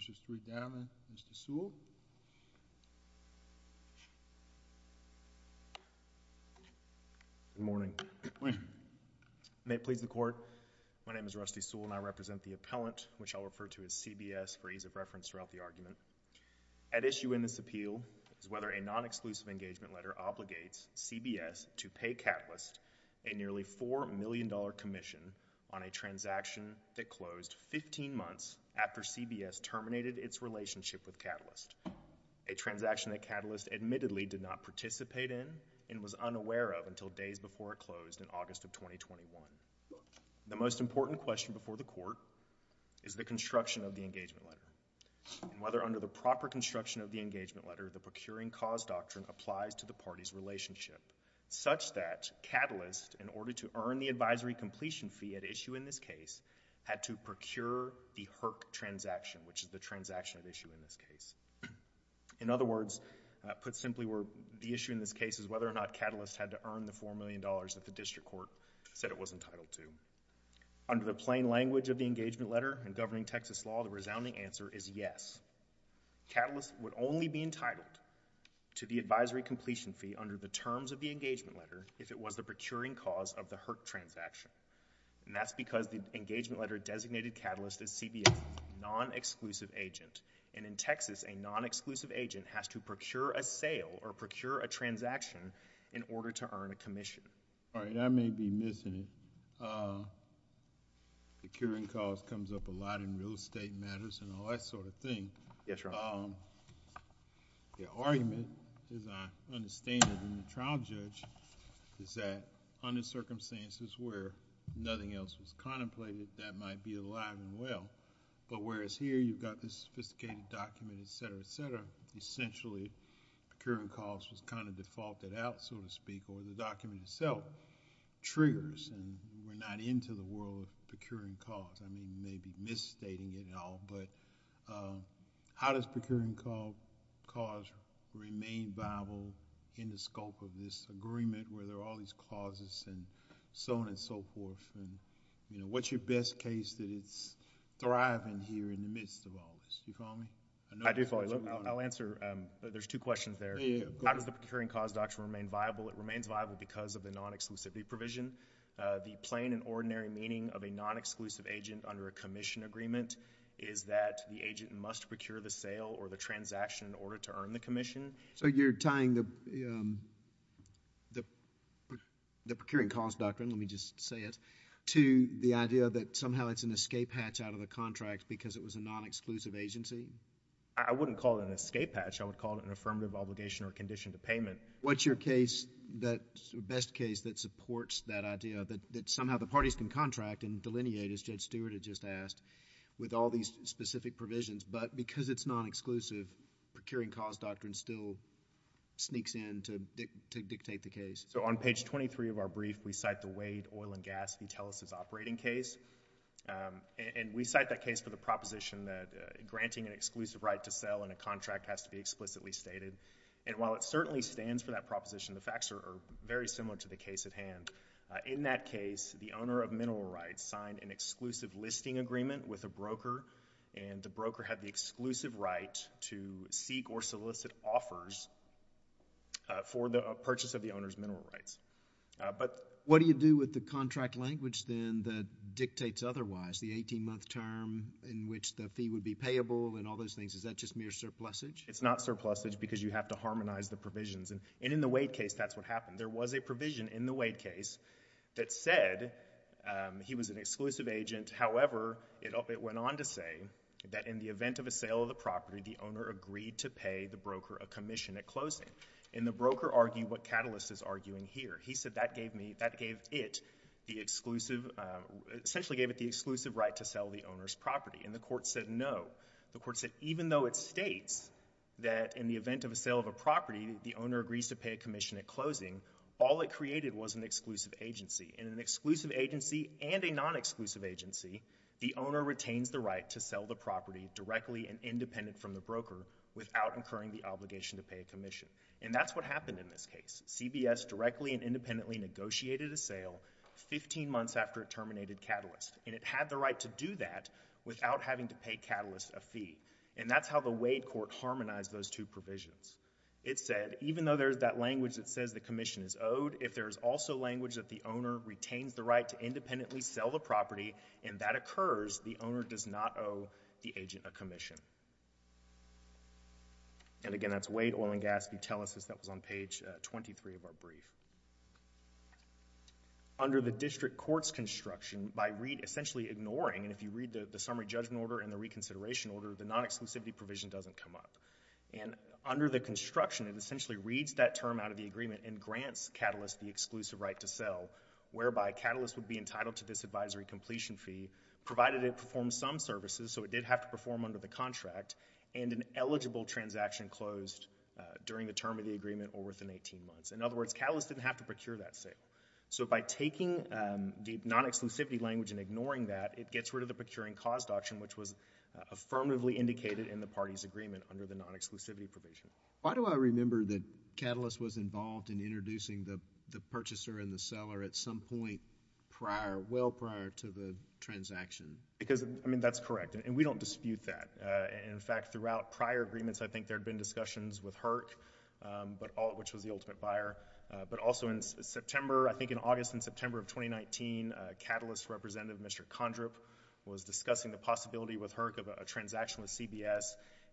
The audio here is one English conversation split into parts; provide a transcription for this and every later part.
Mr. Sewell. Good morning. May it please the court, my name is Rusty Sewell and I represent the appellant, which I'll refer to as CBS for ease of reference throughout the argument. At issue in this appeal is whether a non-exclusive engagement letter obligates CBS to pay Catalyst a nearly $4 million commission on a transaction that closed 15 months after CBS terminated its relationship with Catalyst, a transaction that Catalyst admittedly did not participate in and was unaware of until days before it closed in August of 2021. The most important question before the court is the construction of the engagement letter and whether under the proper construction of the engagement letter, the procuring cause doctrine applies to the party's relationship, such that Catalyst, in order to earn the advisory completion fee at issue in this case, had to procure the HERC transaction, which is the transaction at issue in this case. In other words, put simply, the issue in this case is whether or not Catalyst had to earn the $4 million that the district court said it was entitled to. Under the plain language of the engagement letter and governing Texas law, the resounding answer is yes. Catalyst would only be entitled to the advisory completion fee under the terms of the engagement letter if it was the procuring cause of the HERC transaction. That's because the engagement letter designated Catalyst as CBS' non-exclusive agent. In Texas, a non-exclusive agent has to procure a sale or procure a transaction in order to earn a commission. All right, I may be missing it. Procuring cause comes up a lot in real estate matters and all that sort of thing. Yes, Your Honor. The argument, as I understand it in the trial judge, is that under circumstances where nothing else was contemplated, that might be alive and well. Whereas here, you've got this sophisticated document, et cetera, et cetera. Essentially, procuring cause was defaulted out, so to speak, or the document itself triggers and we're not into the world of procuring cause. I mean, you may be misstating it all, but how does procuring cause remain viable in the scope of this agreement where there are all these causes and so on and so forth? What's your best case that it's thriving here in the midst of all this? Do you follow me? I do follow you. I'll answer. There's two questions there. How does the procuring cause doctrine remain viable? It remains viable because of the non-exclusivity provision. The plain and ordinary meaning of a non-exclusive agent under a commission agreement is that the agent must procure the sale or the transaction in order to earn the commission. So you're tying the procuring cause doctrine, let me just say it, to the idea that somehow it's an escape hatch out of the contract because it was a non-exclusive agency? I wouldn't call it an escape hatch. I would call it an affirmative obligation or condition to payment. What's your best case that supports that idea that somehow the parties can contract and delineate, as Judge Stewart had just asked, with all these specific provisions, but because it's non-exclusive, procuring cause doctrine still sneaks in to dictate the case? So on page 23 of our brief, we cite the Wade oil and gas utilities operating case. And we cite that case for the proposition that granting an exclusive right to sell in a contract has to be explicitly stated. And while it certainly stands for that proposition, the facts are very similar to the case at hand. In that case, the owner of mineral rights signed an exclusive listing agreement with a broker, and the broker had the exclusive right to seek or solicit offers for the purchase of the owner's mineral rights. But what do you do with the contract language then that dictates otherwise, the 18-month term in which the fee would be payable and all those things? Is that just mere surplusage? It's not surplusage because you have to harmonize the provisions. And in the Wade case, that's what happened. There was a provision in the Wade case that said he was an exclusive agent. However, it went on to say that in the event of a sale of the property, the owner agreed to pay the broker a commission at closing. And the broker argued what Catalyst is arguing here. He said that gave me, that gave it the exclusive, essentially gave it the exclusive right to sell the owner's property. And the court said no. The court said even though it states that in the event of a sale of a property, the owner agrees to pay a commission at closing, all it created was an exclusive agency. And an exclusive agency and a non-exclusive agency, the owner retains the right to sell the property directly and independent from the broker without incurring the obligation to pay a commission. And that's what happened in this case. CBS directly and independently negotiated a sale 15 months after it terminated with Catalyst. And it had the right to do that without having to pay Catalyst a fee. And that's how the Wade court harmonized those two provisions. It said even though there's that language that says the commission is owed, if there is also language that the owner retains the right to independently sell the property and that occurs, the owner does not owe the agent a commission. And again, that's Wade Oil and Gas Utilisys. That was on page 23 of our brief. Under the district court's construction, by essentially ignoring, and if you read the summary judgment order and the reconsideration order, the non-exclusivity provision doesn't come up. And under the construction, it essentially reads that term out of the agreement and grants Catalyst the exclusive right to sell, whereby Catalyst would be entitled to this advisory completion fee, provided it performs some services, so it did have to perform under the contract, and an eligible transaction closed during the term of the agreement or within 18 months. In other words, Catalyst didn't have to procure that sale. So by taking the non-exclusivity language and ignoring that, it gets rid of the procuring cost option, which was affirmatively indicated in the party's agreement under the non-exclusivity provision. Why do I remember that Catalyst was involved in introducing the purchaser and the seller at some point prior, well prior to the transaction? Because I mean, that's correct. And we don't dispute that. In fact, throughout prior agreements, I think there had been discussions with HERC, which was the ultimate buyer, but also in September, I think in August and September of 2019, Catalyst's representative, Mr. Condrip, was discussing the possibility with HERC of a transaction with CBS,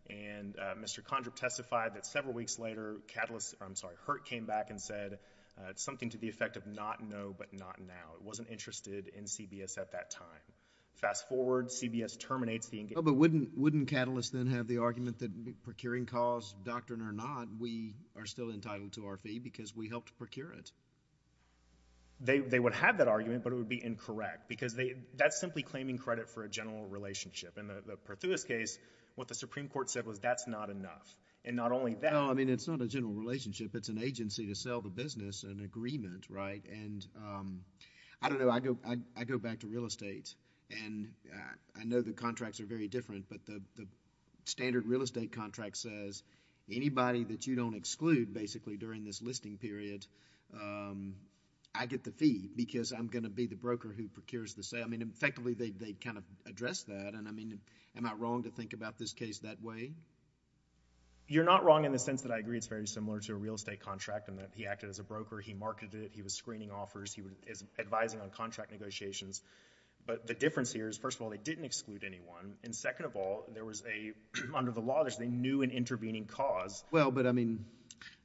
and Mr. Condrip testified that several weeks later, Catalyst, I'm sorry, HERC came back and said, it's something to the effect of not no, but not now. It wasn't interested in CBS at that time. Fast forward, CBS terminates the engagement. But wouldn't Catalyst then have the argument that procuring costs, doctrine or not, we are still entitled to our fee because we helped procure it? They would have that argument, but it would be incorrect, because that's simply claiming credit for a general relationship. In the Perthuis case, what the Supreme Court said was that's not enough. And not only that— Well, I mean, it's not a general relationship. It's an agency to sell the business, an agreement, right? And I don't know. I go back to real estate, and I know the contracts are very different, but the standard real estate contract says anybody that you don't exclude, basically, during this listing period, I get the fee because I'm going to be the broker who procures the sale. I mean, effectively, they kind of address that, and I mean, am I wrong to think about this case that way? You're not wrong in the sense that I agree it's very similar to a real estate contract in that he acted as a broker, he marketed it, he was screening offers, he was advising on contract negotiations. But the difference here is, first of all, they didn't exclude anyone, and second of all, there was a—under the law, there's a new and intervening cause. Well, but I mean,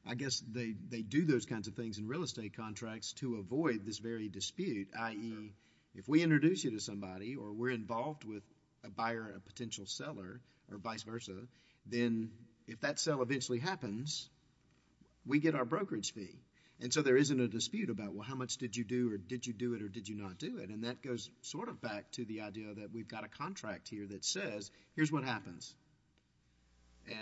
I guess they do those kinds of things in real estate contracts to avoid this very dispute, i.e., if we introduce you to somebody or we're involved with a buyer or a potential seller or vice versa, then if that sale eventually happens, we get our brokerage fee, and so there isn't a dispute about, well, how much did you do or did you do it or did you not do it, and that goes sort of back to the idea that we've got a contract here that says, here's what happens,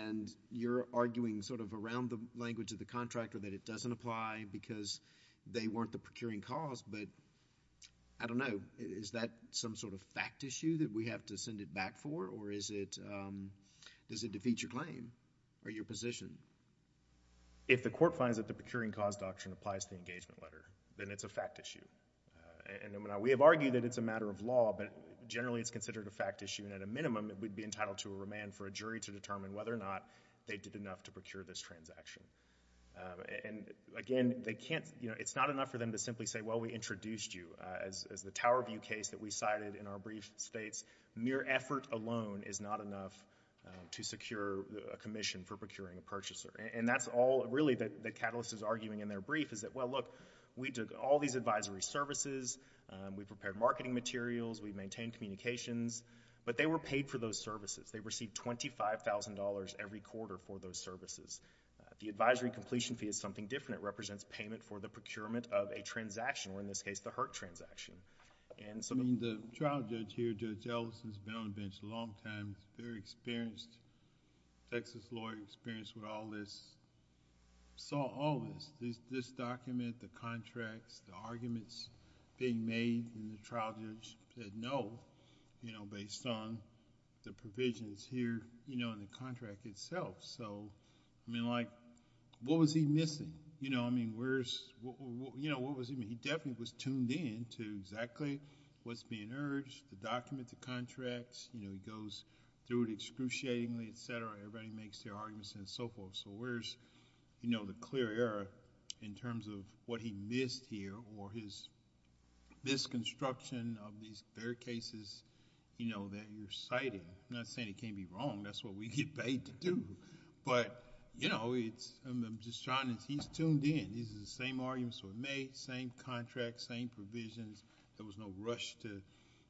and you're arguing sort of around the language of the contract or that it doesn't apply because they weren't the procuring cause, but I don't know, is that some sort of fact issue that we have to send it back for, or is it—does it defeat your claim or your position? If the court finds that the procuring cause doctrine applies to the engagement letter, then it's a fact issue. And we have argued that it's a matter of law, but generally it's considered a fact issue, and at a minimum, it would be entitled to a remand for a jury to determine whether or not they did enough to procure this transaction. And again, it's not enough for them to simply say, well, we introduced you. As the Tower View case that we cited in our brief states, mere effort alone is not enough to secure a commission for procuring a purchaser, and that's all really that Catalyst is arguing in their brief is that, well, look, we took all these advisory services, we prepared marketing materials, we maintained communications, but they were paid for those services. They received $25,000 every quarter for those services. The advisory completion fee is something different. It is a payment of a transaction, or in this case, the HERT transaction. The trial judge here, Judge Ellison, has been on the bench a long time. He's a very experienced Texas lawyer, experienced with all this, saw all this, this document, the contracts, the arguments being made, and the trial judge said no, based on the provisions here in the statute. He definitely was tuned in to exactly what's being urged, the document, the contracts. He goes through it excruciatingly, et cetera. Everybody makes their arguments and so forth. Where's the clear error in terms of what he missed here, or his misconstruction of these fair cases that you're citing? I'm not saying he can't be wrong. That's what we get paid to do. I'm just trying... he's tuned in. These are the same arguments that were made, same contracts, same provisions. There was no rush to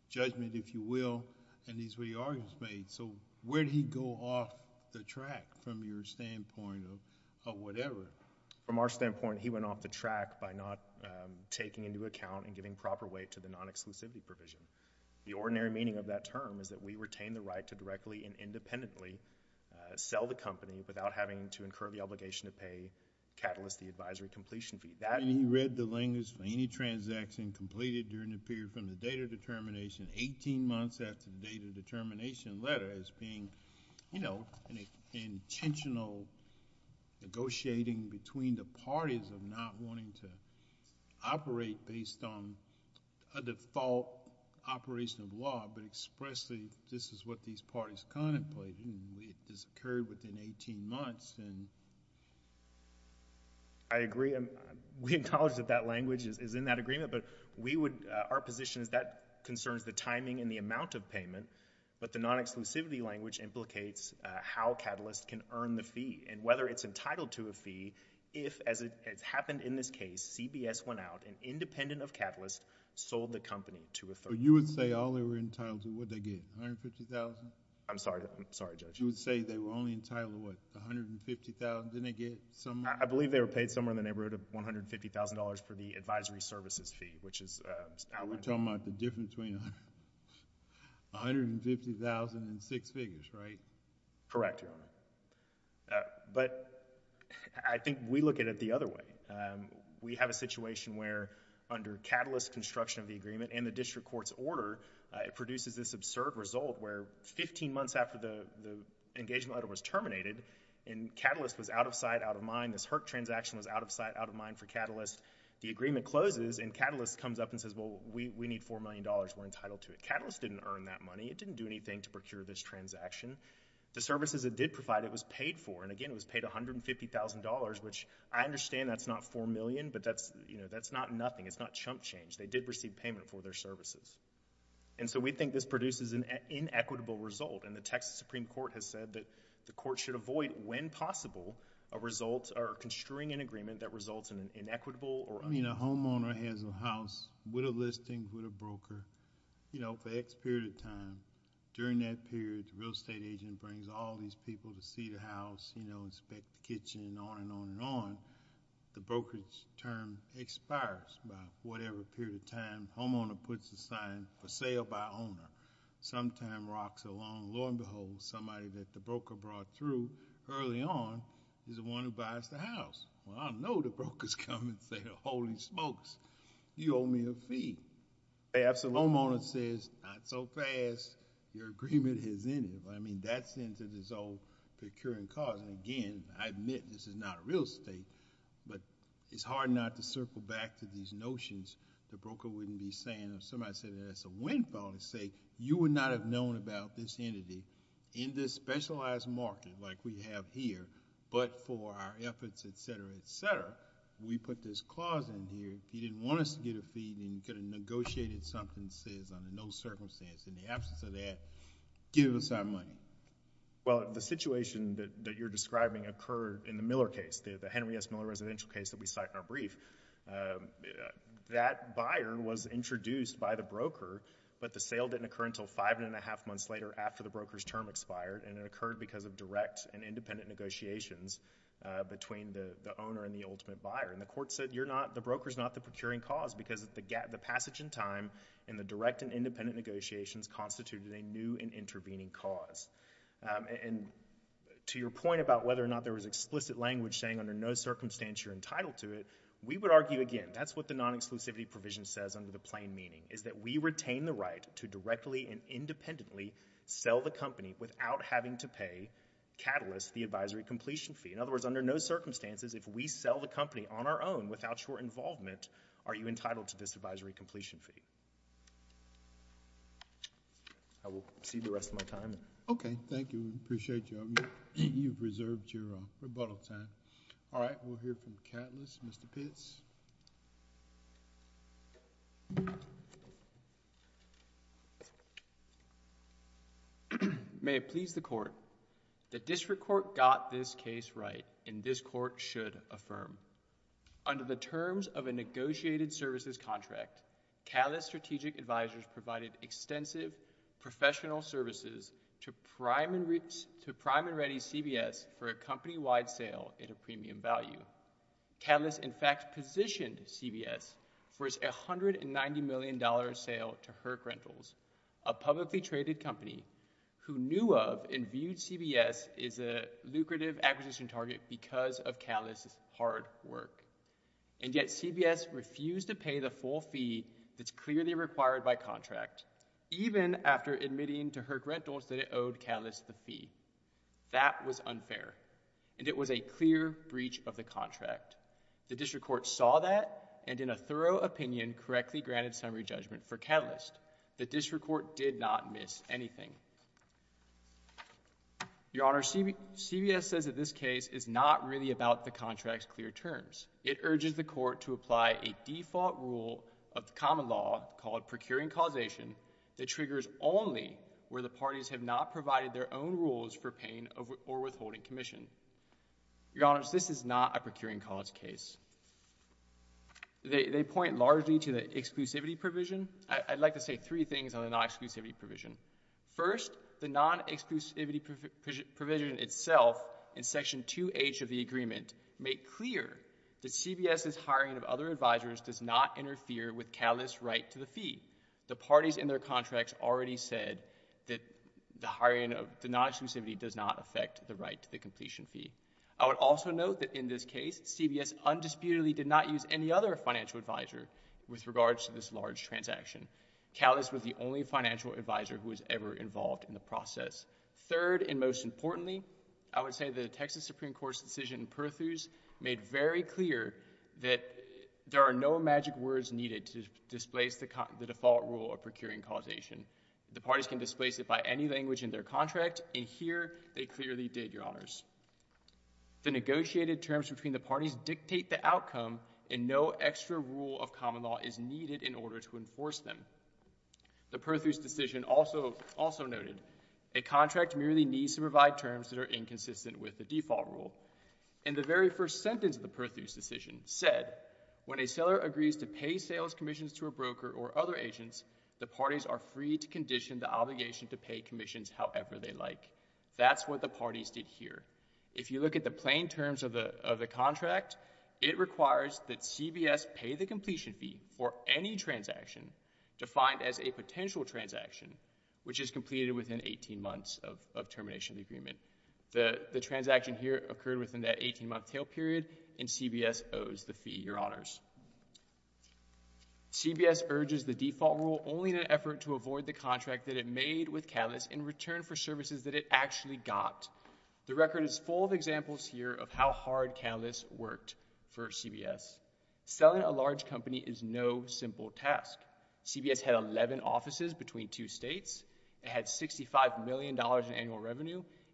judgment, if you will, in these re-arguments made. Where did he go off the track from your standpoint of whatever? From our standpoint, he went off the track by not taking into account and giving proper weight to the non-exclusivity provision. The ordinary meaning of that term is that we retain the right to directly and independently sell the company without having to incur the obligation to pay, catalyst the advisory completion fee. He read the language for any transaction completed during the period from the date of determination, 18 months after the date of determination letter, as being an intentional negotiating between the parties of not wanting to operate based on a default operation of law, but expressly this is what these parties contemplate. This occurred within 18 months. I agree. We acknowledge that that language is in that agreement, but our position is that concerns the timing and the amount of payment, but the non-exclusivity language implicates how catalyst can earn the fee and whether it's entitled to a fee if, as it happened in this case, CBS went out and, independent of catalyst, sold the company to a third party. You would say all they were entitled to, what'd they get, $150,000? I'm sorry, Judge. You would say they were only entitled to what, $150,000? Didn't they get some... I believe they were paid somewhere in the neighborhood of $150,000 for the advisory services fee, which is... We're talking about the difference between $150,000 and six figures, right? Correct, Your Honor. I think we look at it the other way. We have a situation where, under catalyst construction of the agreement and the district court's order, it produces this absurd result where 15 months after the engagement letter was terminated and catalyst was out of sight, out of mind, this HERC transaction was out of sight, out of mind for catalyst, the agreement closes and catalyst comes up and says, well, we need $4 million. We're entitled to it. Catalyst didn't earn that money. It didn't do anything to procure this transaction. The services it did provide, it was paid for, and again, it was paid $150,000, which I understand that's not $4 million, but that's not nothing. It's not chump change. They did receive payment for their services. We think this produces an inequitable result, and the Texas Supreme Court has said that the court should avoid, when possible, a result or construing an agreement that results in an inequitable or... I mean, a homeowner has a house with a listing, with a broker, for X period of time. During that period, the real estate agent brings all these people to see the house, inspect the kitchen, and on and on and on. The broker's term expires by whatever period of time the homeowner puts the sign for sale by owner. Sometime rocks along, and lo and behold, somebody that the broker brought through early on is the one who buys the house. Well, I know the brokers come and say, holy smokes, you owe me a fee. Perhaps the homeowner says, not so fast. Your agreement has ended. I mean, that sends it to his own procuring cause. Again, I admit this is not a real estate, but it's hard not to circle back to these notions. The broker wouldn't be saying... if somebody said that it's a windfall, they'd say, you would not have known about this entity in this specialized market like we have here, but for our efforts, et cetera, et cetera, we put this clause in here. If you didn't want us to get a fee, then you could have negotiated something that says, under no circumstance, in the absence of that, give us our money. Well, the situation that you're describing occurred in the Miller case, the Henry S. Miller residential case that we cite in our brief. That buyer was introduced by the broker, but the sale didn't occur until five and a half months later after the broker's term expired, and it occurred because of direct and independent negotiations between the owner and the ultimate buyer. The court said, the broker's not the procuring cause because the passage in time and the direct and independent negotiations constituted a new and intervening cause. And to your point about whether or not there was explicit language saying, under no circumstance, you're entitled to it, we would argue, again, that's what the non-exclusivity provision says under the plain meaning, is that we retain the right to directly and independently sell the company without having to pay, catalyst, the advisory completion fee. In other words, under no circumstances, if we sell the company on our own without your involvement, are you entitled to it? Okay. Thank you. We appreciate you. You've reserved your rebuttal time. All right. We'll hear from Catalyst. Mr. Pitts? May it please the court, the district court got this case right, and this court should affirm. Under the terms of a negotiated services contract, Catalyst Strategic Advisors provided extensive professional services to Prime and Ready CBS for a company-wide sale at a premium value. Catalyst, in fact, positioned CBS for its $190 million sale to Herc Rentals, a publicly traded company who knew of and viewed CBS as a lucrative acquisition target because of Catalyst's hard work. And yet, CBS refused to pay the full fee that's clearly required by contract, even after admitting to Herc Rentals that it owed Catalyst the fee. That was unfair, and it was a clear breach of the contract. The district court saw that, and in a thorough opinion, correctly granted summary judgment for Catalyst. The district court did not miss anything. Your Honor, CBS says that this case is not really about the contract's clear terms. It is about procuring causation that triggers only where the parties have not provided their own rules for paying or withholding commission. Your Honors, this is not a procuring cause case. They point largely to the exclusivity provision. I'd like to say three things on the non-exclusivity provision. First, the non-exclusivity provision itself in Section 2H of the agreement made clear that CBS's hiring of other advisors does not interfere with Catalyst's right to the fee. The parties in their contracts already said that the hiring of the non-exclusivity does not affect the right to the completion fee. I would also note that in this case, CBS undisputedly did not use any other financial advisor with regards to this large transaction. Catalyst was the only financial advisor who was ever involved in the process. Third, and most importantly, I would say the Texas Supreme Court's decision in Perthews made very clear that there are no magic words needed to displace the default rule of procuring causation. The parties can displace it by any language in their contract, and here they clearly did, Your Honors. The negotiated terms between the parties dictate the outcome, and no extra rule of common law is needed in order to enforce them. The Perthews decision also noted, a contract merely needs to provide terms that are inconsistent with the default rule. In the very first sentence of the Perthews decision, it said, when a seller agrees to pay sales commissions to a broker or other agents, the parties are free to condition the obligation to pay commissions however they like. That's what the parties did here. If you look at the plain terms of the contract, it requires that CBS pay the completion fee for any transaction defined as a potential transaction, which is completed within 18 months of termination of the agreement. The transaction here occurred within that 18-month tail period, and CBS owes the fee, Your Honors. CBS urges the default rule only in an effort to avoid the contract that it made with Catalyst in return for services that it actually got. The record is full of examples here of how hard Catalyst worked for CBS. Selling a large revenue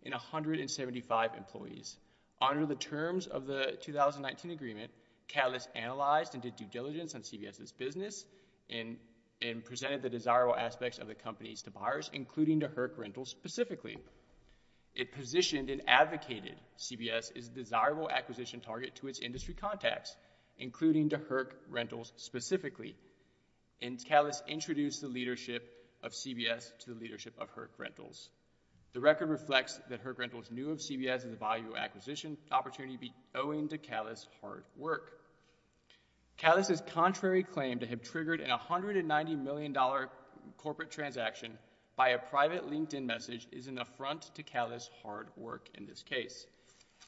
in 175 employees. Under the terms of the 2019 agreement, Catalyst analyzed and did due diligence on CBS's business and presented the desirable aspects of the companies to buyers, including to Herc Rentals specifically. It positioned and advocated CBS's desirable acquisition target to its industry contacts, including to Herc Rentals specifically, and to the leadership of Herc Rentals. The record reflects that Herc Rentals knew of CBS's value acquisition opportunity owing to Catalyst's hard work. Catalyst's contrary claim to have triggered a $190 million corporate transaction by a private LinkedIn message is an affront to Catalyst's hard work in this case.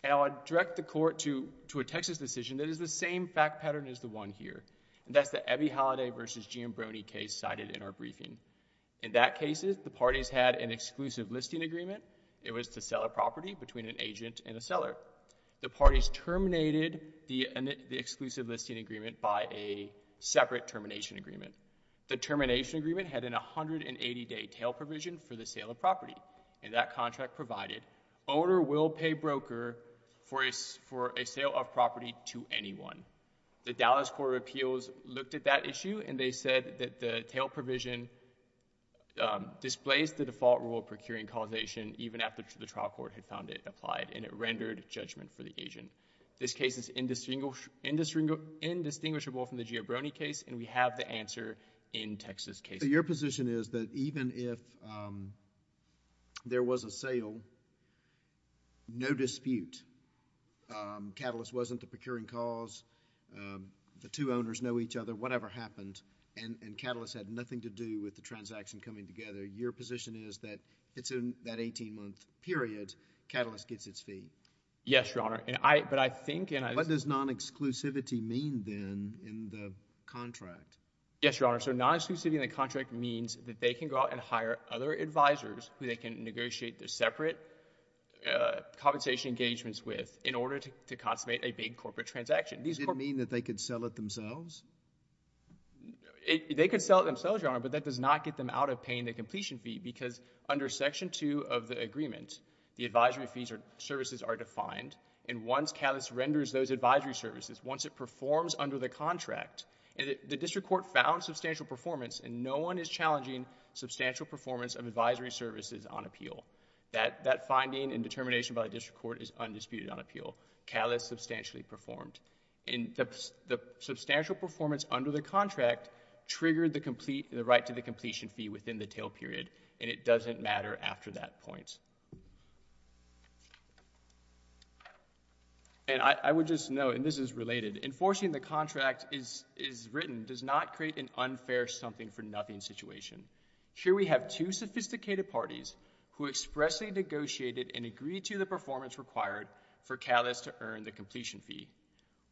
And I'll direct the Court to a Texas decision that is the same fact pattern as the one here, and that's the Ebi Holiday v. Gianbroni case cited in our briefing. In that case, the parties had an exclusive listing agreement. It was to sell a property between an agent and a seller. The parties terminated the exclusive listing agreement by a separate termination agreement. The termination agreement had an 180-day tail provision for the sale of property, and that contract provided owner will pay broker for a sale of property to anyone. The Dallas Court of Appeals looked at that issue, and they said that the tail provision displays the default rule of procuring causation even after the trial court had found it applied, and it rendered judgment for the agent. This case is indistinguishable from the Gianbroni case, and we have the answer in Texas cases. Your position is that even if there was a sale, no dispute, Catalyst wasn't the procuring cause, the two owners know each other, whatever happened, and Catalyst had nothing to do with the transaction coming together, your position is that it's in that 18-month period, Catalyst gets its fee? Yes, Your Honor, but I think... What does non-exclusivity mean then in the contract? Yes, Your Honor, so non-exclusivity in the contract means that they can go out and hire other advisors who they can negotiate their separate compensation engagements with in order to consummate a big corporate transaction. Does it mean that they could sell it themselves? They could sell it themselves, Your Honor, but that does not get them out of paying the completion fee, because under Section 2 of the agreement, the advisory fees or services are defined, and once Catalyst renders those advisory services, once it performs under the contract, the district court found substantial performance, and no one is challenging substantial performance of advisory services on appeal. That finding and determination by the district court is undisputed on appeal. Catalyst substantially performed, and the substantial performance under the contract triggered the right to the completion fee within the tail period, and it doesn't matter after that point. And I would just note, and this is related, enforcing the contract as written does not create an unfair something-for-nothing situation. Here we have two sophisticated parties who agreed the performance required for Catalyst to earn the completion fee.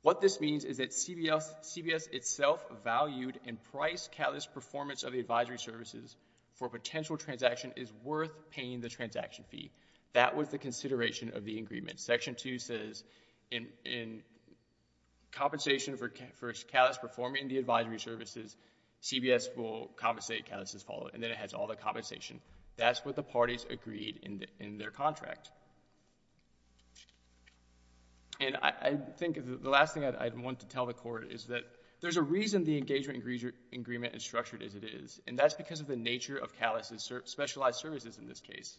What this means is that CBS itself valued and priced Catalyst's performance of the advisory services for a potential transaction is worth paying the transaction fee. That was the consideration of the agreement. Section 2 says in compensation for Catalyst performing the advisory services, CBS will compensate Catalyst as followed, and then it has all the compensation. That's what the parties agreed in their contract. And I think the last thing I'd want to tell the court is that there's a reason the engagement agreement is structured as it is, and that's because of the nature of Catalyst's specialized services in this case.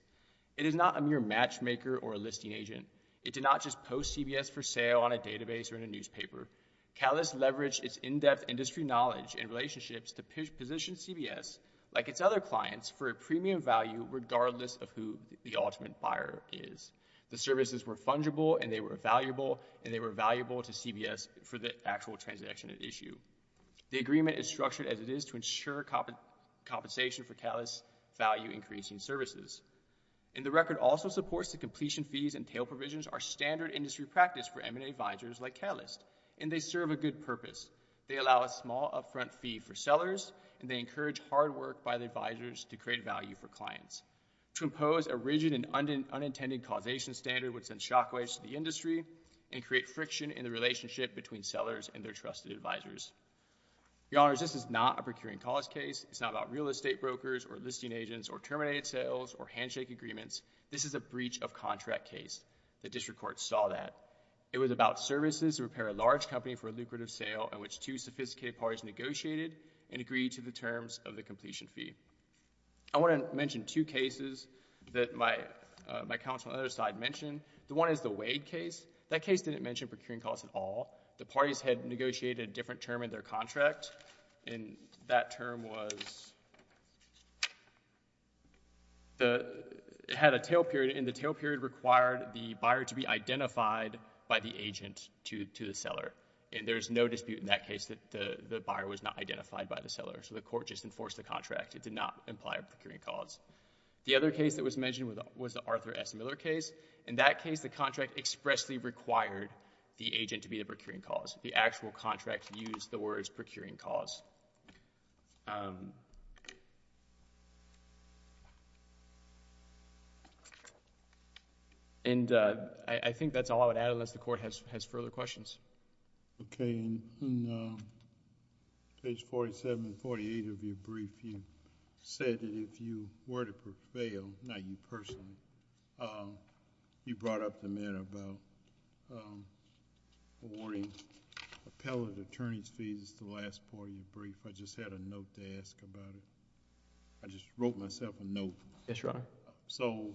It is not a mere matchmaker or a listing agent. It did not just post CBS for sale on a database or in a newspaper. Catalyst leveraged its in-depth industry knowledge and relationships to position CBS, like its other clients, for a premium value regardless of who the ultimate buyer is. The services were fungible, and they were valuable, and they were valuable to CBS for the actual transaction at issue. The agreement is structured as it is to ensure compensation for Catalyst's value-increasing services. And the record also supports the completion fees and tail provisions are standard industry practice for M&A advisors like Catalyst, and they serve a good purpose. They allow a small upfront fee for sellers, and they encourage hard work by the advisors to create value for clients. To impose a rigid and unintended causation standard would send shockwaves to the industry and create friction in the relationship between sellers and their trusted advisors. Your Honors, this is not a procuring cause case. It's not about real estate brokers or listing agents or terminated sales or handshake agreements. This is a breach of contract case. The district court saw that. It was about services to repair a large company for a lucrative sale in which two sophisticated parties negotiated and agreed to the terms of the completion fee. I want to mention two cases that my counsel on the other side mentioned. The one is the Wade case. That case didn't mention procuring cause at all. The parties had negotiated a different term in their contract, and that term was—had a tail period, and the tail period required the buyer to be identified by the agent to the seller. And there's no dispute in that case that the buyer was not identified by the seller, so the court just enforced the contract. It did not imply a procuring cause. The other case that was mentioned was the Arthur S. Miller case. In that case, the contract expressly required the agent to be the procuring cause. The actual contract used the words procuring cause. And I think that's all I would add unless the court has further questions. Okay. On page 47 and 48 of your brief, you said that if you were to prevail, not you I just had a note to ask about it. I just wrote myself a note. Yes, Your Honor. So,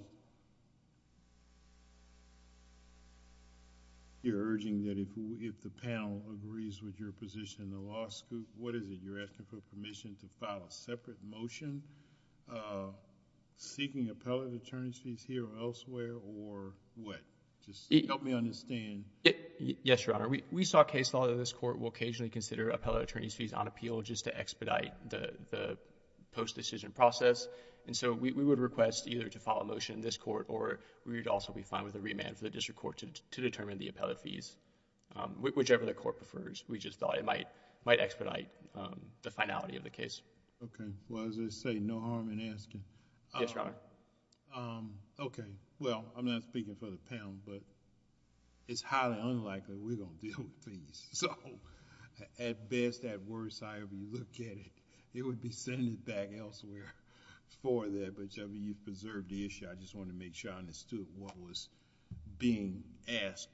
you're urging that if the panel agrees with your position in the law school, what is it? You're asking for permission to file a separate motion seeking appellate attorneys fees here or elsewhere, or what? Just help me understand. Yes, Your Honor. We saw case law that this court will occasionally consider appellate attorneys fees on appeal just to expedite the post-decision process. And so, we would request either to file a motion in this court or we would also be fine with a remand for the district court to determine the appellate fees. Whichever the court prefers, we just thought it might expedite the finality of the case. Okay. Well, as they say, no harm in asking. Yes, Your Honor. Okay. Well, I'm not speaking for the panel, but it's highly unlikely we're going to deal with fees. So, at best, at worst, however you look at it, it would be sent back elsewhere for that. But you preserved the issue. I just wanted to make sure I understood what was being asked,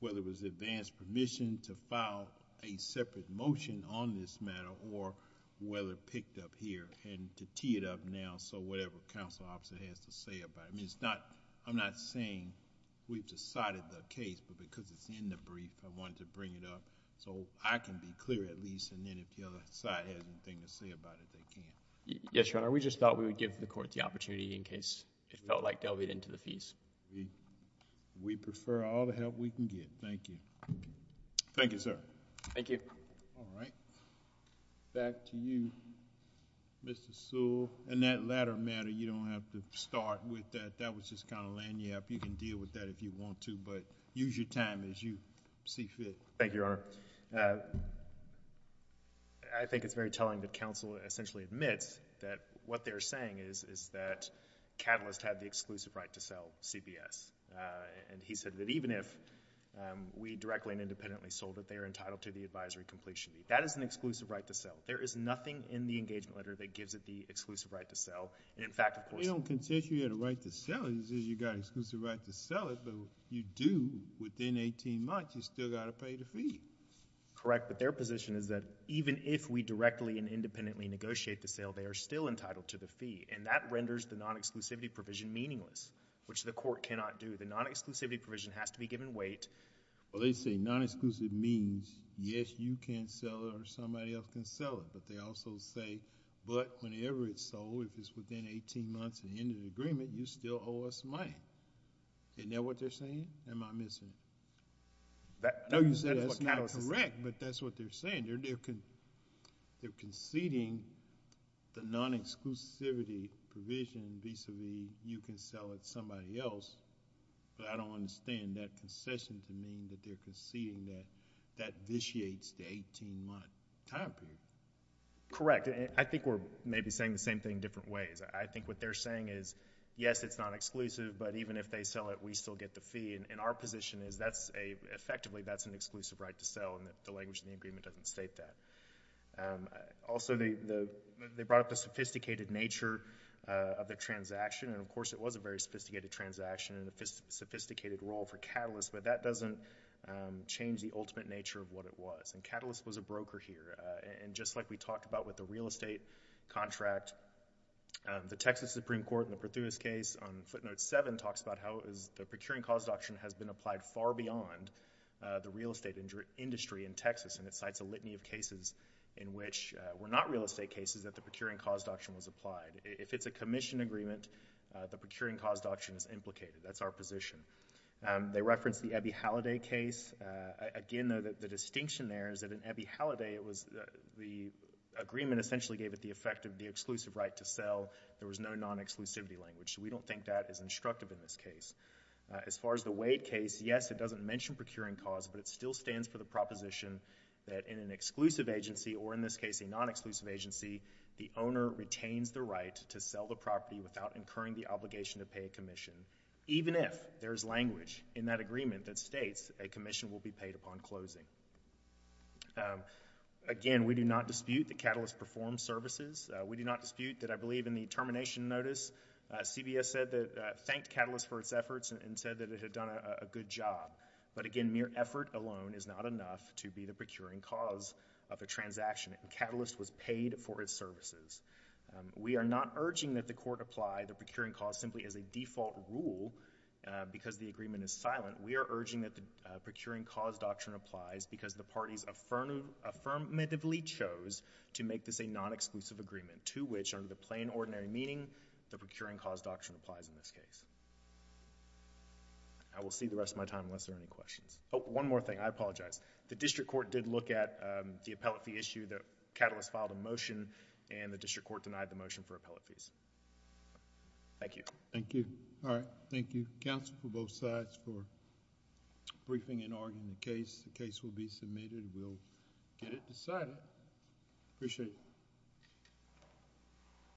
whether it was advanced permission to file a separate motion on this matter or whether it picked up here and to tee it up now so whatever counsel officer has to say about it. I mean, it's not... I'm not saying we've decided the case, but because it's in the brief, I wanted to bring it up so I can be clear at least and then if the other side has anything to say about it, they can. Yes, Your Honor. We just thought we would give the court the opportunity in case it felt like delving into the fees. We prefer all the help we can get. Thank you. Thank you, sir. Thank you. All right. Back to you, Mr. Sewell. And that latter matter, you don't have to start with that. That was just kind of laying you up. You can deal with that if you want to, but use your time as you see fit. Thank you, Your Honor. I think it's very telling that counsel essentially admits that what they're saying is that Catalyst had the exclusive right to sell CBS. And he said that even if we directly and independently sold it, they are entitled to the advisory completion fee. That is an exclusive right to sell. There is nothing in the engagement letter that gives it the exclusive right to sell. And in fact, of course— We don't consider you have the right to sell it. It says you got exclusive right to sell it, but you do within 18 months. You still got to pay the fee. Correct. But their position is that even if we directly and independently negotiate the sale, they are still entitled to the fee. And that renders the non-exclusivity provision meaningless, which the court cannot do. The non-exclusivity provision has to be given weight. Well, they say non-exclusive means, yes, you can sell it or somebody else can sell it. But they also say, but whenever it's sold, if it's within 18 months of the end of the agreement, you still owe us money. Isn't that what they're saying? Am I missing it? That's what Catalyst is saying. No, you said that's not correct, but that's what they're saying. They're conceding the non-exclusivity provision vis-a-vis you can sell it to somebody else. But I don't understand that concession to mean that they're conceding that that vitiates the 18-month time period. Correct. I think we're maybe saying the same thing different ways. I think what they're saying is, yes, it's non-exclusive, but even if they sell it, we still get the fee. And our position is effectively that's an exclusive right to sell, and the language in the agreement doesn't state that. Also, they brought up the sophisticated nature of the transaction, and of course it was a very sophisticated transaction and a sophisticated role for Catalyst, but that doesn't change the ultimate nature of what it was, and Catalyst was a broker here. And just like we talked about with the real estate contract, the Texas Supreme Court in the Perthus case on footnote 7 talks about how the procuring cause doctrine has been applied far beyond the real estate industry in Texas, and it cites a litany of cases in which were not real estate cases that the procuring cause doctrine was applied. If it's a commission agreement, the procuring cause doctrine is implicated. That's our position. They referenced the Ebi Halliday case. Again, the distinction there is that in Ebi Halliday, the agreement essentially gave it the effect of the exclusive right to sell. There was no non-exclusivity language, so we don't think that is instructive in this case. As far as the Wade case, yes, it doesn't mention procuring cause, but it still stands for the proposition that in an exclusive agency, or in this case a non-exclusive agency, the owner retains the right to sell the property without incurring the obligation to pay a commission, even if there is language in that agreement that states a commission will be paid upon closing. Again, we do not dispute that Catalyst performed services. We do not dispute that I believe in the termination notice, CBS thanked Catalyst for its efforts and said that it had done a good job. But again, mere effort alone is not enough to be the procuring cause of the transaction. Catalyst was paid for its services. We are not urging that the court apply the procuring cause simply as a default rule, because the agreement is silent. We are urging that the procuring cause doctrine applies because the parties affirmatively chose to make this a non-exclusive agreement, to which, under the plain ordinary meaning, the procuring cause doctrine applies in this case. I will see the rest of my time unless there are any questions. Oh, one more thing. I apologize. The district court did look at the appellate fee issue that Catalyst filed a motion and the district court denied the motion for appellate fees. Thank you. Thank you. All right. Thank you, counsel, for both sides for briefing and arguing the case. The case will be submitted. We'll get it decided. Appreciate it.